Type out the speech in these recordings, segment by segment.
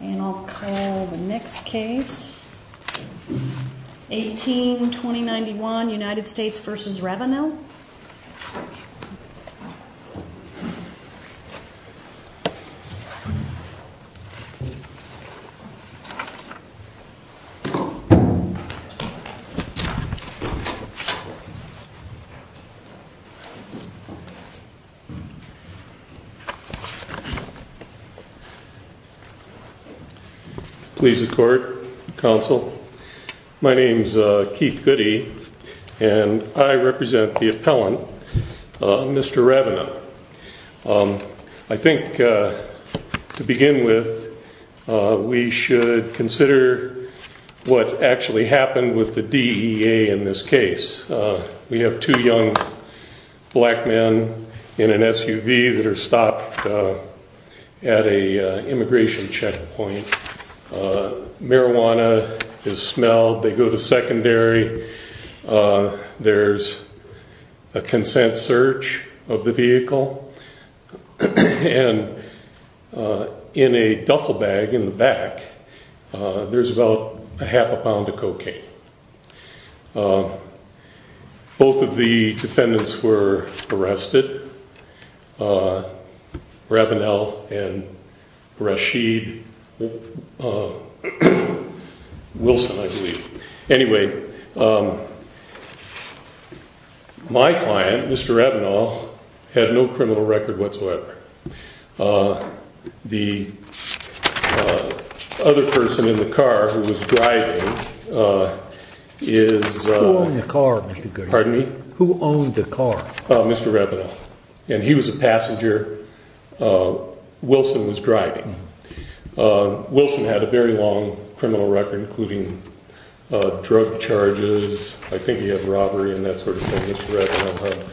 And I'll call the next case, 18-2091 United States v. Ravenell. Please the court, counsel. My name is Keith Goody, and I represent the appellant, Mr. Ravenell. I think to begin with, we should consider what actually happened with the DEA in this case. We have two young black men in an SUV that are stopped at an immigration checkpoint. Marijuana is smelled. They go to secondary. There's a consent search of the vehicle. And in a duffel bag in the back, there's about a half a pound of cocaine. Both of the defendants were arrested, Ravenell and Rashid Wilson, I believe. Anyway, my client, Mr. Ravenell, had no criminal record whatsoever. The other person in the car who was driving is... Who owned the car, Mr. Goody? Pardon me? Who owned the car? Mr. Ravenell. And he was a passenger. Wilson was driving. Wilson had a very long criminal record, including drug charges. I think he had robbery and that sort of thing.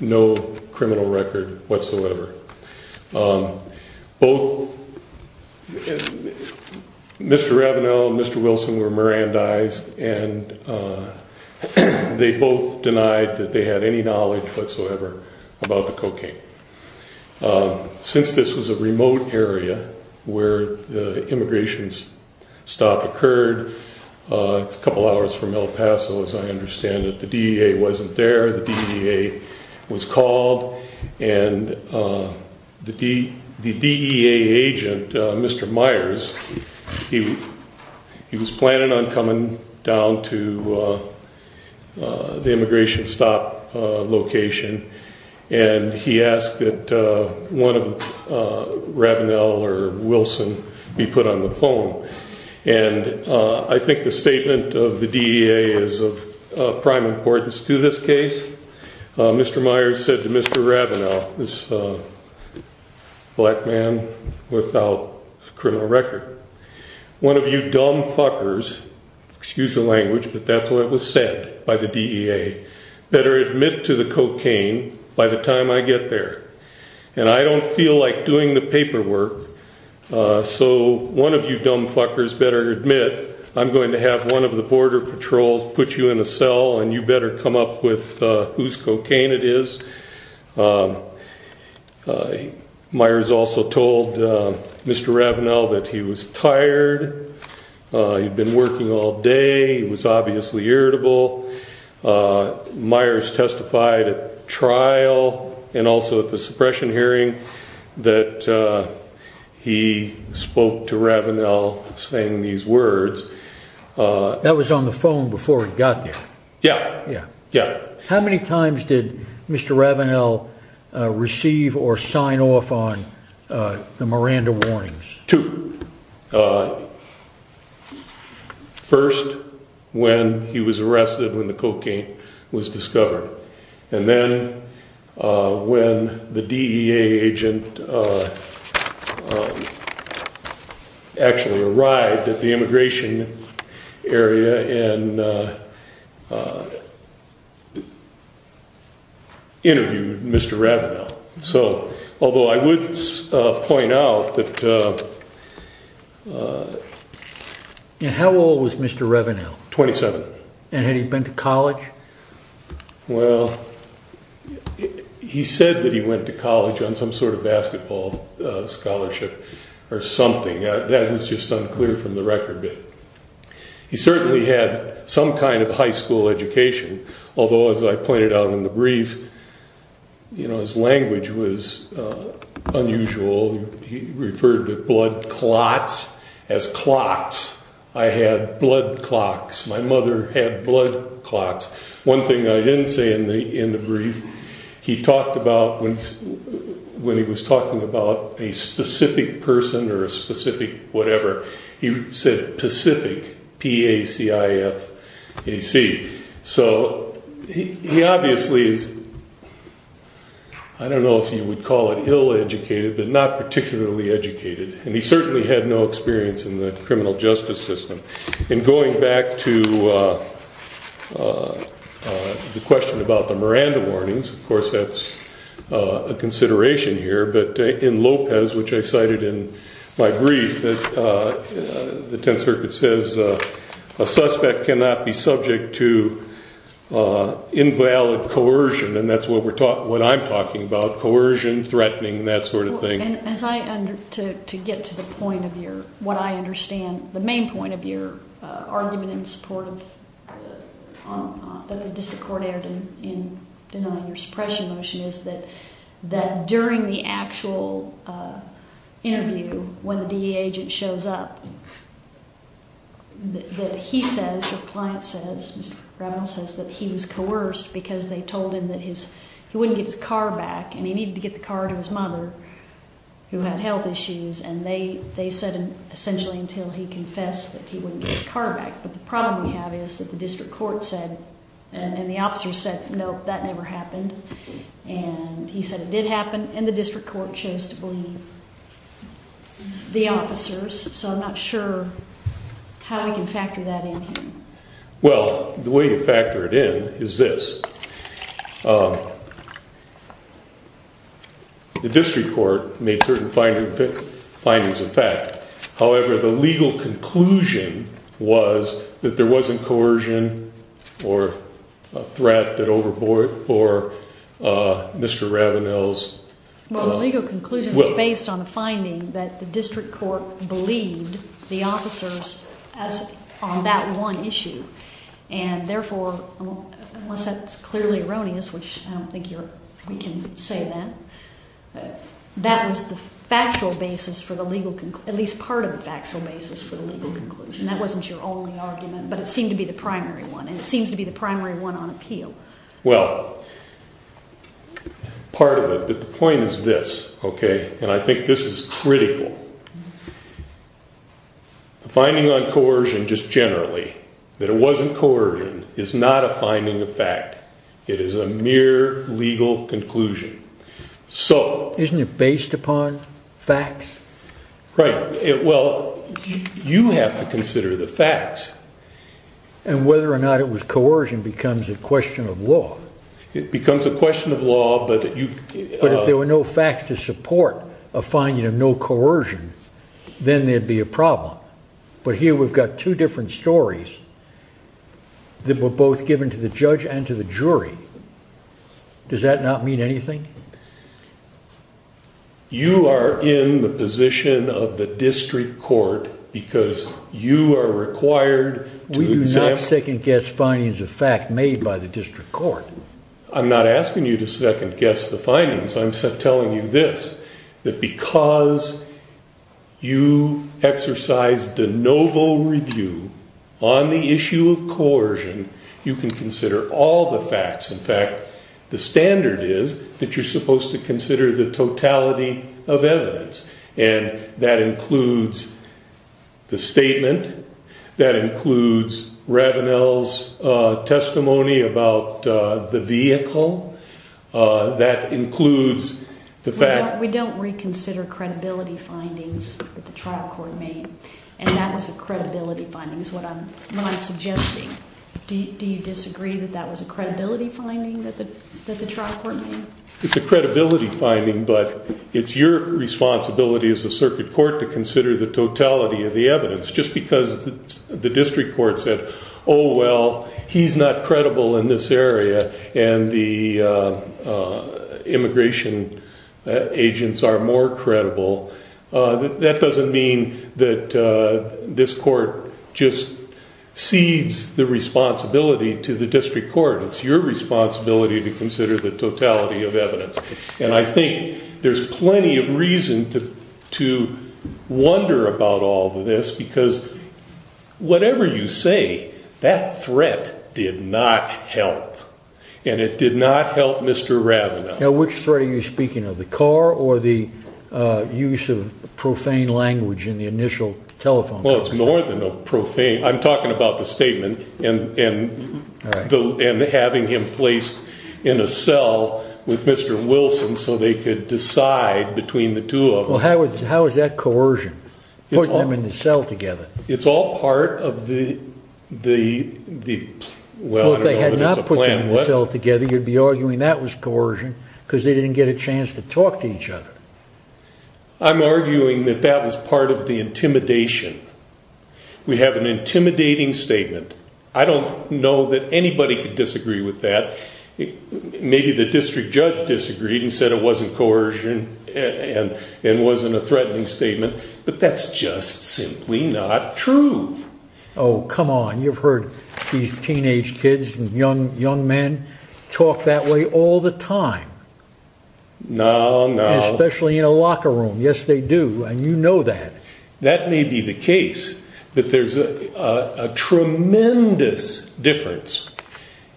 No criminal record whatsoever. Both Mr. Ravenell and Mr. Wilson were Mirandized, and they both denied that they had any knowledge whatsoever about the cocaine. Since this was a remote area where the immigration stop occurred, it's a couple hours from El Paso, as I understand it. The DEA wasn't there. The DEA was called. And the DEA agent, Mr. Myers, he was planning on coming down to the immigration stop location, and he asked that one of Ravenell or Wilson be put on the phone. And I think the statement of the DEA is of prime importance to this case. Mr. Myers said to Mr. Ravenell, this black man without a criminal record, one of you dumb fuckers, excuse the language, but that's what was said by the DEA, better admit to the cocaine by the time I get there. And I don't feel like doing the paperwork, so one of you dumb fuckers better admit I'm going to have one of the border patrols put you in a cell, and you better come up with whose cocaine it is. Myers also told Mr. Ravenell that he was tired. He'd been working all day. He was obviously irritable. Myers testified at trial and also at the suppression hearing that he spoke to Ravenell saying these words. That was on the phone before he got there? Yeah. How many times did Mr. Ravenell receive or sign off on the Miranda warnings? Two. First, when he was arrested, when the cocaine was discovered. And then when the DEA agent actually arrived at the immigration area and interviewed Mr. Ravenell. Although I would point out that... How old was Mr. Ravenell? 27. And had he been to college? Well, he said that he went to college on some sort of basketball scholarship or something. That is just unclear from the record. He certainly had some kind of high school education, although, as I pointed out in the brief, his language was unusual. He referred to blood clots as clots. I had blood clots. My mother had blood clots. One thing I didn't say in the brief, he talked about when he was talking about a specific person or a specific whatever, he said Pacific, P-A-C-I-F-A-C. So, he obviously is... I don't know if you would call it ill-educated, but not particularly educated. And he certainly had no experience in the criminal justice system. And going back to the question about the Miranda warnings, of course that's a consideration here, but in Lopez, which I cited in my brief, the Tenth Circuit says a suspect cannot be subject to invalid coercion, and that's what I'm talking about, coercion, threatening, that sort of thing. To get to the point of what I understand, the main point of your argument in support of the District Court error in denying your suppression motion is that during the actual interview, when the D.E. agent shows up, that he says, your client says, Mr. Brown says, that he was coerced because they told him that he wouldn't get his car back and he needed to get the car to his mother, who had health issues, and they said essentially until he confessed that he wouldn't get his car back. But the problem we have is that the District Court said, and the officers said, nope, that never happened, and he said it did happen, and the District Court chose to believe the officers, so I'm not sure how we can factor that in here. Well, the way to factor it in is this. The District Court made certain findings of fact. However, the legal conclusion was that there wasn't coercion or a threat that overbought for Mr. Ravenel's will. Well, the legal conclusion was based on a finding that the District Court believed the officers on that one issue, and therefore, unless that's clearly erroneous, which I don't think we can say that, that was the factual basis for the legal, at least part of the factual basis for the legal conclusion. That wasn't your only argument, but it seemed to be the primary one, and it seems to be the primary one on appeal. Well, part of it, but the point is this, okay, and I think this is critical. The finding on coercion just generally, that it wasn't coercion, is not a finding of fact. It is a mere legal conclusion. Isn't it based upon facts? Right. Well, you have to consider the facts. And whether or not it was coercion becomes a question of law. It becomes a question of law, but you... But if there were no facts to support a finding of no coercion, then there'd be a problem. But here we've got two different stories that were both given to the judge and to the jury. Does that not mean anything? You are in the position of the district court because you are required to... We do not second-guess findings of fact made by the district court. I'm not asking you to second-guess the findings. I'm telling you this, that because you exercised de novo review on the issue of coercion, you can consider all the facts. In fact, the standard is that you're supposed to consider the totality of evidence. And that includes the statement. That includes Ravenel's testimony about the vehicle. That includes the fact... We don't reconsider credibility findings that the trial court made. And that was a credibility finding is what I'm suggesting. Do you disagree that that was a credibility finding that the trial court made? It's a credibility finding, but it's your responsibility as a circuit court to consider the totality of the evidence. Just because the district court said, Oh, well, he's not credible in this area and the immigration agents are more credible, that doesn't mean that this court just cedes the responsibility to the district court. It's your responsibility to consider the totality of evidence. And I think there's plenty of reason to wonder about all of this because whatever you say, that threat did not help. And it did not help Mr. Ravenel. Now, which threat are you speaking of? The car or the use of profane language in the initial telephone conversation? Well, it's more than a profane... I'm talking about the statement and having him placed in a cell with Mr. Wilson so they could decide between the two of them. Well, how is that coercion? Putting them in the cell together? It's all part of the... Well, if they had not put them in the cell together, you'd be arguing that was coercion. Because they didn't get a chance to talk to each other. I'm arguing that that was part of the intimidation. We have an intimidating statement. I don't know that anybody could disagree with that. Maybe the district judge disagreed and said it wasn't coercion and wasn't a threatening statement. But that's just simply not true. Oh, come on. You've heard these teenage kids and young men talk that way all the time. No, no. Especially in a locker room. Yes, they do. And you know that. That may be the case. But there's a tremendous difference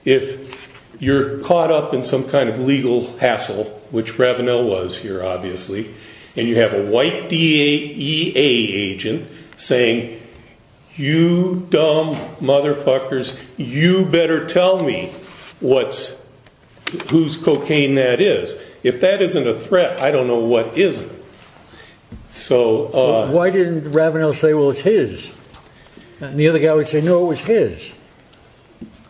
if you're caught up in some kind of legal hassle, which Ravenel was here, obviously, and you have a white DEA agent saying, you dumb motherfuckers, you better tell me whose cocaine that is. If that isn't a threat, I don't know what isn't. Why didn't Ravenel say, well, it's his? And the other guy would say, no, it was his.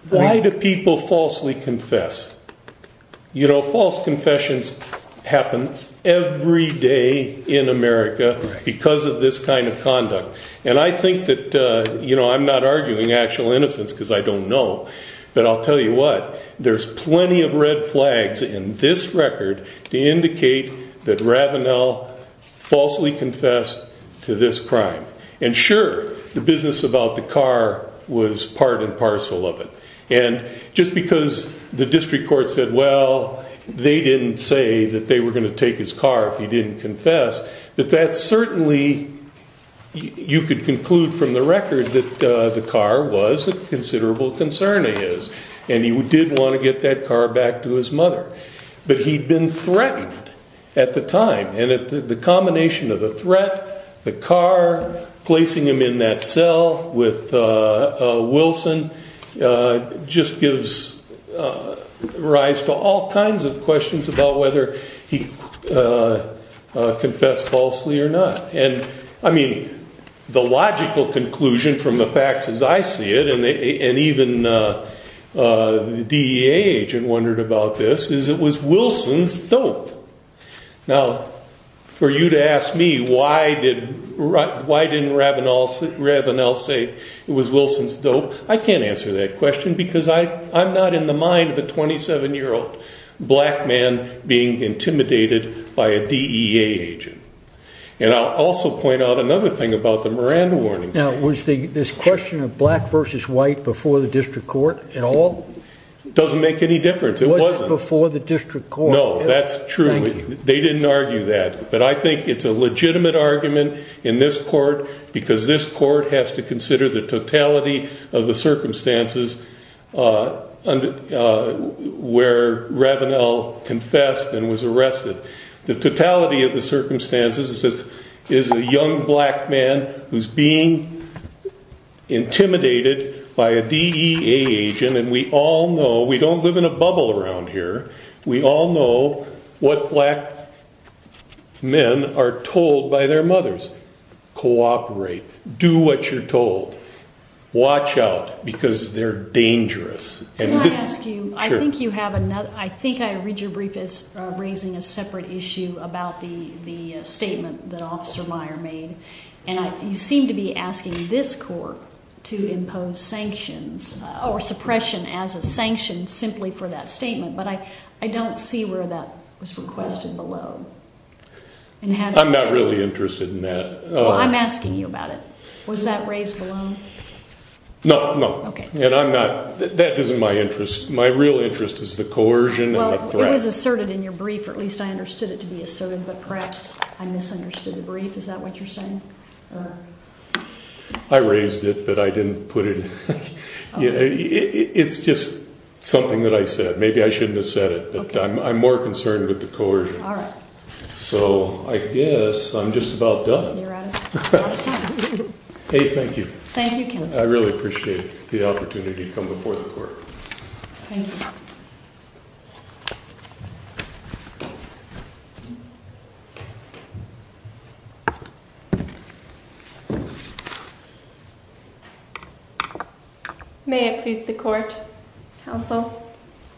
Why do people falsely confess? You know, false confessions happen every day in America because of this kind of conduct. And I think that, you know, I'm not arguing actual innocence because I don't know. But I'll tell you what. There's plenty of red flags in this record to indicate that Ravenel falsely confessed to this crime. And sure, the business about the car was part and parcel of it. And just because the district court said, well, they didn't say that they were going to take his car if he didn't confess. But that certainly, you could conclude from the record that the car was a considerable concern of his. And he did want to get that car back to his mother. But he'd been threatened at the time. And the combination of the threat, the car, placing him in that cell with Wilson, just gives rise to all kinds of questions about whether he confessed falsely or not. And, I mean, the logical conclusion from the facts as I see it, and even the DEA agent wondered about this, is it was Wilson's dope. Now, for you to ask me why didn't Ravenel say it was Wilson's dope, I can't answer that question because I'm not in the mind of a 27-year-old black man being intimidated by a DEA agent. And I'll also point out another thing about the Miranda warnings. Now, was this question of black versus white before the district court at all? It doesn't make any difference. It wasn't. It wasn't before the district court. No, that's true. Thank you. They didn't argue that. But I think it's a legitimate argument in this court because this court has to consider the totality of the circumstances where Ravenel confessed and was arrested. The totality of the circumstances is a young black man who's being intimidated by a DEA agent. And we all know, we don't live in a bubble around here. We all know what black men are told by their mothers. Cooperate. Do what you're told. Watch out because they're dangerous. Can I ask you, I think you have another, I think I read your brief as raising a separate issue about the statement that Officer Meyer made. And you seem to be asking this court to impose sanctions or suppression as a sanction simply for that statement. But I don't see where that was requested below. I'm not really interested in that. I'm asking you about it. Was that raised below? No, no. Okay. And I'm not, that isn't my interest. My real interest is the coercion and the threat. Well, it was asserted in your brief, or at least I understood it to be asserted. But perhaps I misunderstood the brief. Is that what you're saying? I raised it, but I didn't put it. It's just something that I said. Maybe I shouldn't have said it, but I'm more concerned with the coercion. All right. So I guess I'm just about done. You're out of time. Hey, thank you. Thank you, counsel. I really appreciate the opportunity to come before the court. Thank you. Thank you. May it please the court, counsel.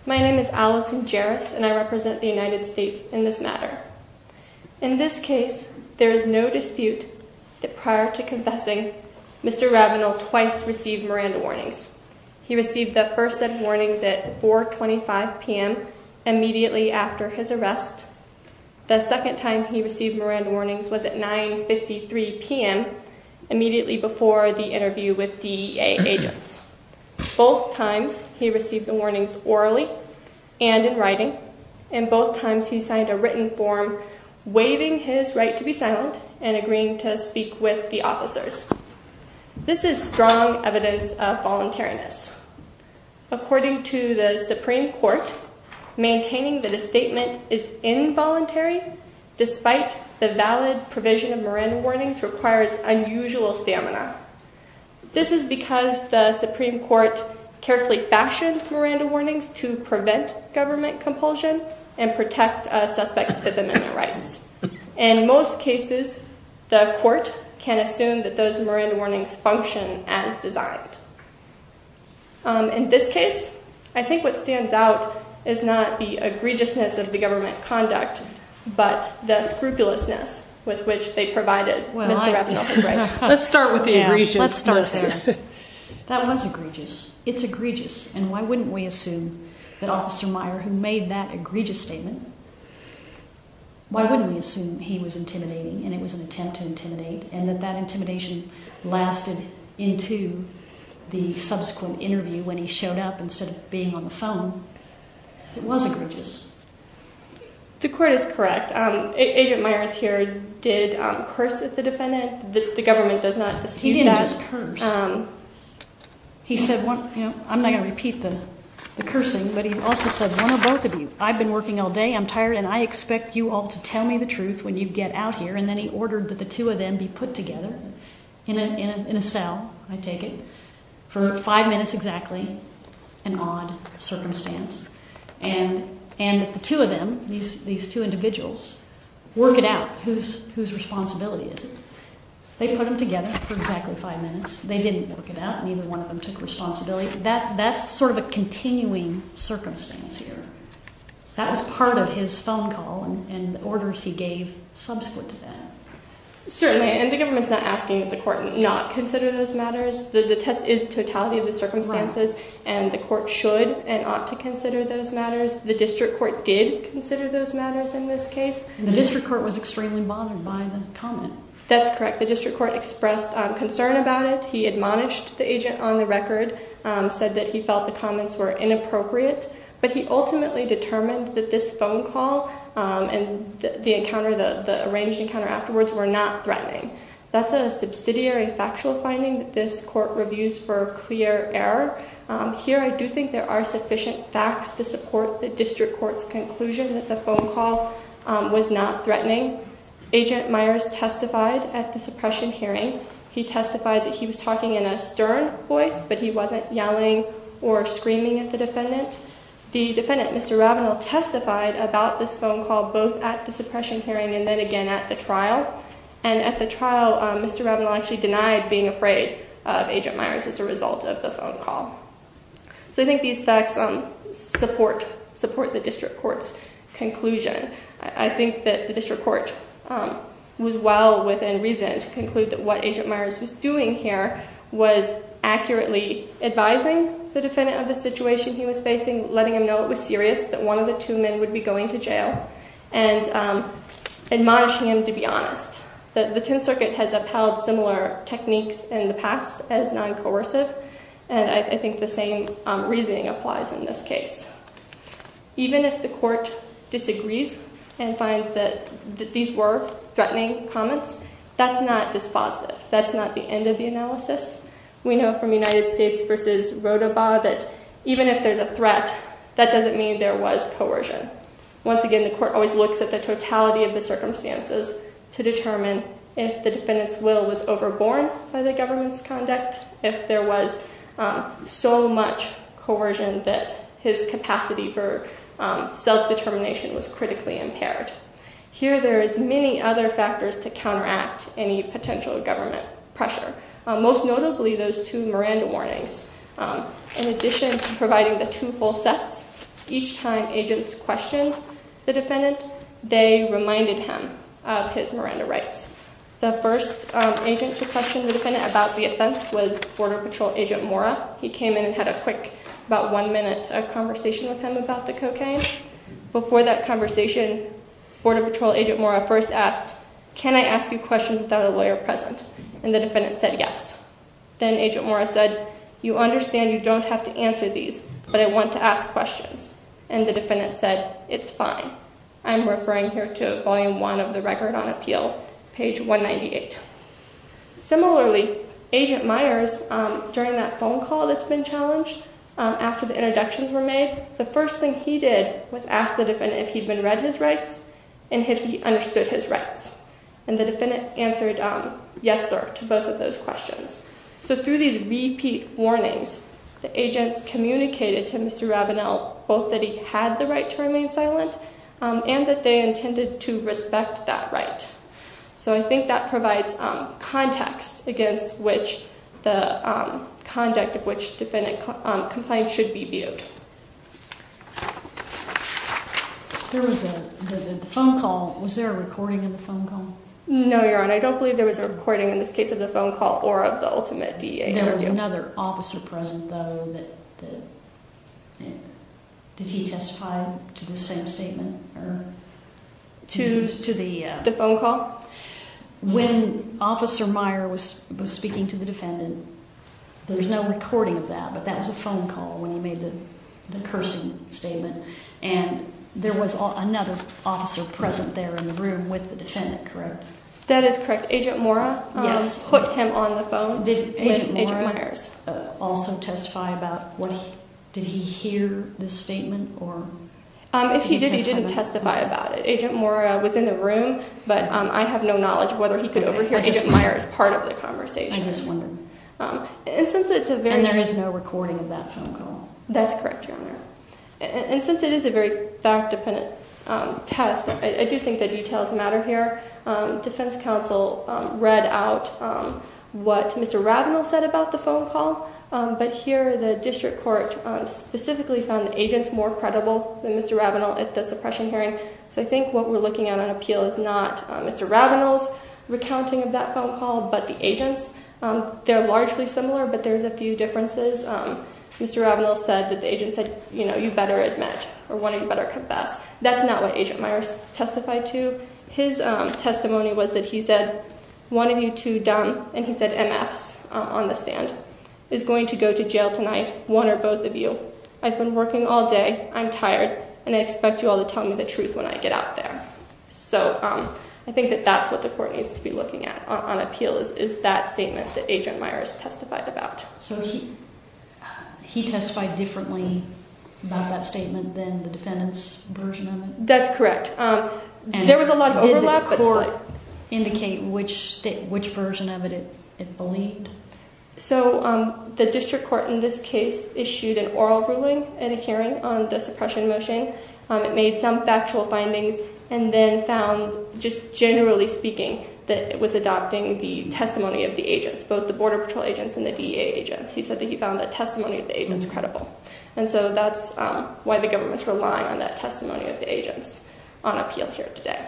My name is Allison Jaris, and I represent the United States in this matter. In this case, there is no dispute that prior to confessing, Mr. Ravenel twice received Miranda warnings. He received the first set of warnings at 4.25 p.m. immediately after his arrest. The second time he received Miranda warnings was at 9.53 p.m. immediately before the interview with DEA agents. Both times he received the warnings orally and in writing, and both times he signed a written form waiving his right to be silent and agreeing to speak with the officers. This is strong evidence of voluntariness. According to the Supreme Court, maintaining that a statement is involuntary, despite the valid provision of Miranda warnings, requires unusual stamina. This is because the Supreme Court carefully fashioned Miranda warnings to prevent government compulsion and protect suspects of amendment rights. In most cases, the court can assume that those Miranda warnings function as designed. In this case, I think what stands out is not the egregiousness of the government conduct, but the scrupulousness with which they provided Mr. Ravenel the rights. Let's start with the egregiousness. That was egregious. It's egregious. And why wouldn't we assume that Officer Meyer, who made that egregious statement, why wouldn't we assume he was intimidating and it was an attempt to intimidate and that that intimidation lasted into the subsequent interview when he showed up instead of being on the phone? It was egregious. The court is correct. Agent Meyer is here, did curse at the defendant. The government does not dispute that. He didn't just curse. He said one, you know, I'm not going to repeat the cursing, but he also said one of both of you, I've been working all day, I'm tired, and I expect you all to tell me the truth when you get out here. And then he ordered that the two of them be put together in a cell, I take it, for five minutes exactly, an odd circumstance. And the two of them, these two individuals, work it out whose responsibility is it. They put them together for exactly five minutes. They didn't work it out. Neither one of them took responsibility. That's sort of a continuing circumstance here. That was part of his phone call and the orders he gave subsequent to that. Certainly, and the government's not asking that the court not consider those matters. The test is totality of the circumstances, and the court should and ought to consider those matters. The district court did consider those matters in this case. The district court was extremely bothered by the comment. That's correct. The district court expressed concern about it. He admonished the agent on the record, said that he felt the comments were inappropriate. But he ultimately determined that this phone call and the arranged encounter afterwards were not threatening. That's a subsidiary factual finding that this court reviews for clear error. Here I do think there are sufficient facts to support the district court's conclusion that the phone call was not threatening. Agent Myers testified at the suppression hearing. He testified that he was talking in a stern voice, but he wasn't yelling or screaming at the defendant. The defendant, Mr. Ravenel, testified about this phone call both at the suppression hearing and then again at the trial. At the trial, Mr. Ravenel actually denied being afraid of Agent Myers as a result of the phone call. I think these facts support the district court's conclusion. I think that the district court was well within reason to conclude that what Agent Myers was doing here was accurately advising the defendant of the situation he was facing, letting him know it was serious, that one of the two men would be going to jail, and admonishing him to be honest. The Tenth Circuit has upheld similar techniques in the past as non-coercive, and I think the same reasoning applies in this case. Even if the court disagrees and finds that these were threatening comments, that's not dispositive, that's not the end of the analysis. We know from United States v. Rodoba that even if there's a threat, that doesn't mean there was coercion. Once again, the court always looks at the totality of the circumstances to determine if the defendant's will was overborne by the government's conduct, if there was so much coercion that his capacity for self-determination was critically impaired. Here there is many other factors to counteract any potential government pressure, most notably those two Miranda warnings. In addition to providing the two full sets, each time agents questioned the defendant, they reminded him of his Miranda rights. The first agent to question the defendant about the offense was Border Patrol Agent Mora. He came in and had a quick, about one-minute conversation with him about the cocaine. Before that conversation, Border Patrol Agent Mora first asked, can I ask you questions without a lawyer present? And the defendant said yes. Then Agent Mora said, you understand you don't have to answer these, but I want to ask questions. And the defendant said, it's fine. I'm referring here to Volume 1 of the Record on Appeal, page 198. Similarly, Agent Myers, during that phone call that's been challenged, after the introductions were made, the first thing he did was ask the defendant if he'd been read his rights and if he understood his rights. And the defendant answered yes, sir, to both of those questions. So through these repeat warnings, the agents communicated to Mr. Rabinell both that he had the right to remain silent and that they intended to respect that right. So I think that provides context against the conduct of which defendant compliance should be viewed. There was a phone call. Was there a recording of the phone call? No, Your Honor. I don't believe there was a recording in this case of the phone call or of the ultimate DEA interview. There was another officer present, though. Did he testify to the same statement? To the phone call? When Officer Meyer was speaking to the defendant, there was no recording of that, but that was a phone call when he made the cursing statement. And there was another officer present there in the room with the defendant, correct? That is correct. Agent Mora put him on the phone with Agent Myers. Did Agent Mora also testify about what he did? Did he hear the statement? If he did, he didn't testify about it. Agent Mora was in the room, but I have no knowledge of whether he could overhear Agent Myers part of the conversation. I'm just wondering. And there is no recording of that phone call? That's correct, Your Honor. And since it is a very fact-dependent test, I do think that details matter here. Defense counsel read out what Mr. Rabinell said about the phone call, but here the district court specifically found the agents more credible than Mr. Rabinell at the suppression hearing. So I think what we're looking at on appeal is not Mr. Rabinell's recounting of that phone call, but the agent's. They're largely similar, but there's a few differences. Mr. Rabinell said that the agent said, you know, you better admit or one of you better confess. That's not what Agent Myers testified to. His testimony was that he said, one of you two dumb, and he said MFs on the stand. Is going to go to jail tonight, one or both of you. I've been working all day, I'm tired, and I expect you all to tell me the truth when I get out there. So I think that that's what the court needs to be looking at on appeal is that statement that Agent Myers testified about. So he testified differently about that statement than the defendant's version of it? That's correct. There was a lot of overlap. Did the court indicate which version of it it believed? So the district court in this case issued an oral ruling in a hearing on the suppression motion. It made some factual findings and then found, just generally speaking, that it was adopting the testimony of the agents. Both the Border Patrol agents and the DEA agents. He said that he found that testimony of the agents credible. And so that's why the government's relying on that testimony of the agents on appeal here today.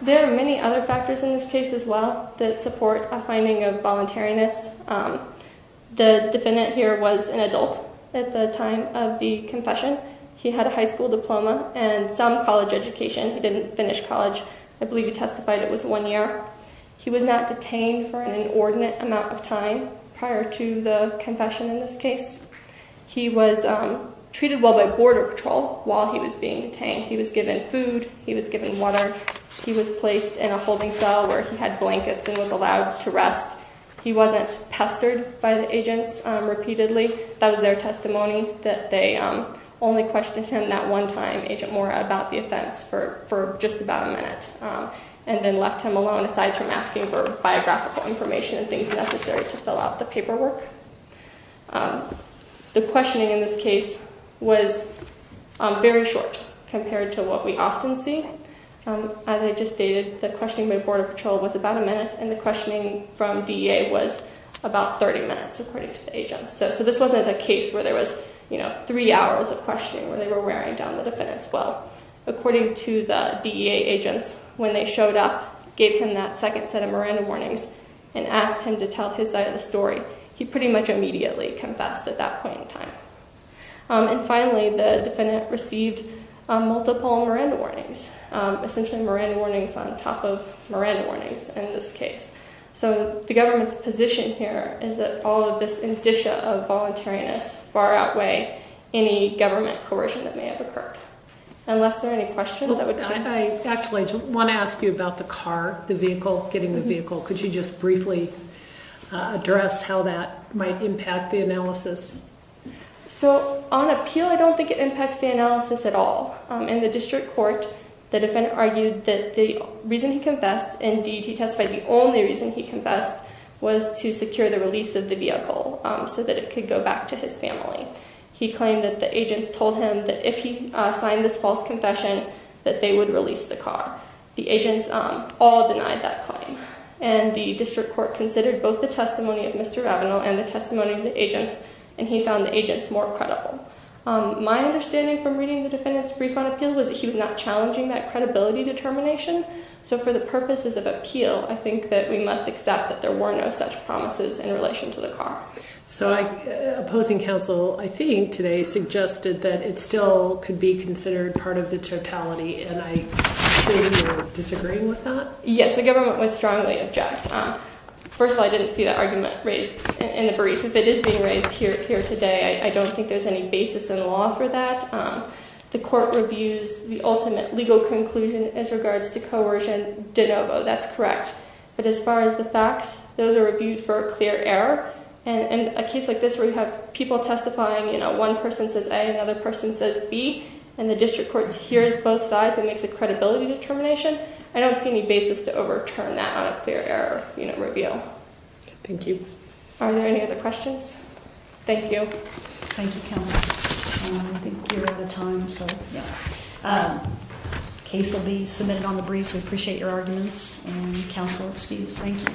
There are many other factors in this case as well that support a finding of voluntariness. The defendant here was an adult at the time of the confession. He had a high school diploma and some college education. He didn't finish college. I believe he testified it was one year. He was not detained for an inordinate amount of time prior to the confession in this case. He was treated well by Border Patrol while he was being detained. He was given food. He was given water. He was placed in a holding cell where he had blankets and was allowed to rest. He wasn't pestered by the agents repeatedly. That was their testimony that they only questioned him that one time, Agent Mora, about the offense for just about a minute. And then left him alone aside from asking for biographical information and things necessary to fill out the paperwork. The questioning in this case was very short compared to what we often see. As I just stated, the questioning by Border Patrol was about a minute and the questioning from DEA was about 30 minutes according to the agents. So this wasn't a case where there was three hours of questioning where they were wearing down the defendant's will. According to the DEA agents, when they showed up, gave him that second set of Miranda warnings, and asked him to tell his side of the story, he pretty much immediately confessed at that point in time. And finally, the defendant received multiple Miranda warnings, essentially Miranda warnings on top of Miranda warnings in this case. So the government's position here is that all of this indicia of voluntariness far outweigh any government coercion that may have occurred. Unless there are any questions. Actually, I want to ask you about the car, the vehicle, getting the vehicle. Could you just briefly address how that might impact the analysis? So on appeal, I don't think it impacts the analysis at all. In the district court, the defendant argued that the reason he confessed, indeed he testified the only reason he confessed, was to secure the release of the vehicle so that it could go back to his family. He claimed that the agents told him that if he signed this false confession, that they would release the car. The agents all denied that claim. And the district court considered both the testimony of Mr. Ravenel and the testimony of the agents, and he found the agents more credible. My understanding from reading the defendant's brief on appeal was that he was not challenging that credibility determination. So for the purposes of appeal, I think that we must accept that there were no such promises in relation to the car. So opposing counsel, I think, today suggested that it still could be considered part of the totality, and I assume you're disagreeing with that? Yes, the government would strongly object. First of all, I didn't see that argument raised in the brief. If it is being raised here today, I don't think there's any basis in law for that. The court reviews the ultimate legal conclusion as regards to coercion de novo. That's correct. But as far as the facts, those are reviewed for a clear error. And in a case like this where you have people testifying, you know, one person says A, another person says B, and the district court hears both sides and makes a credibility determination, I don't see any basis to overturn that on a clear error, you know, review. Thank you. Are there any other questions? Thank you. Thank you, counsel. I think you're out of time, so, yeah. The case will be submitted on the brief, so we appreciate your arguments, and counsel, excuse. Thank you.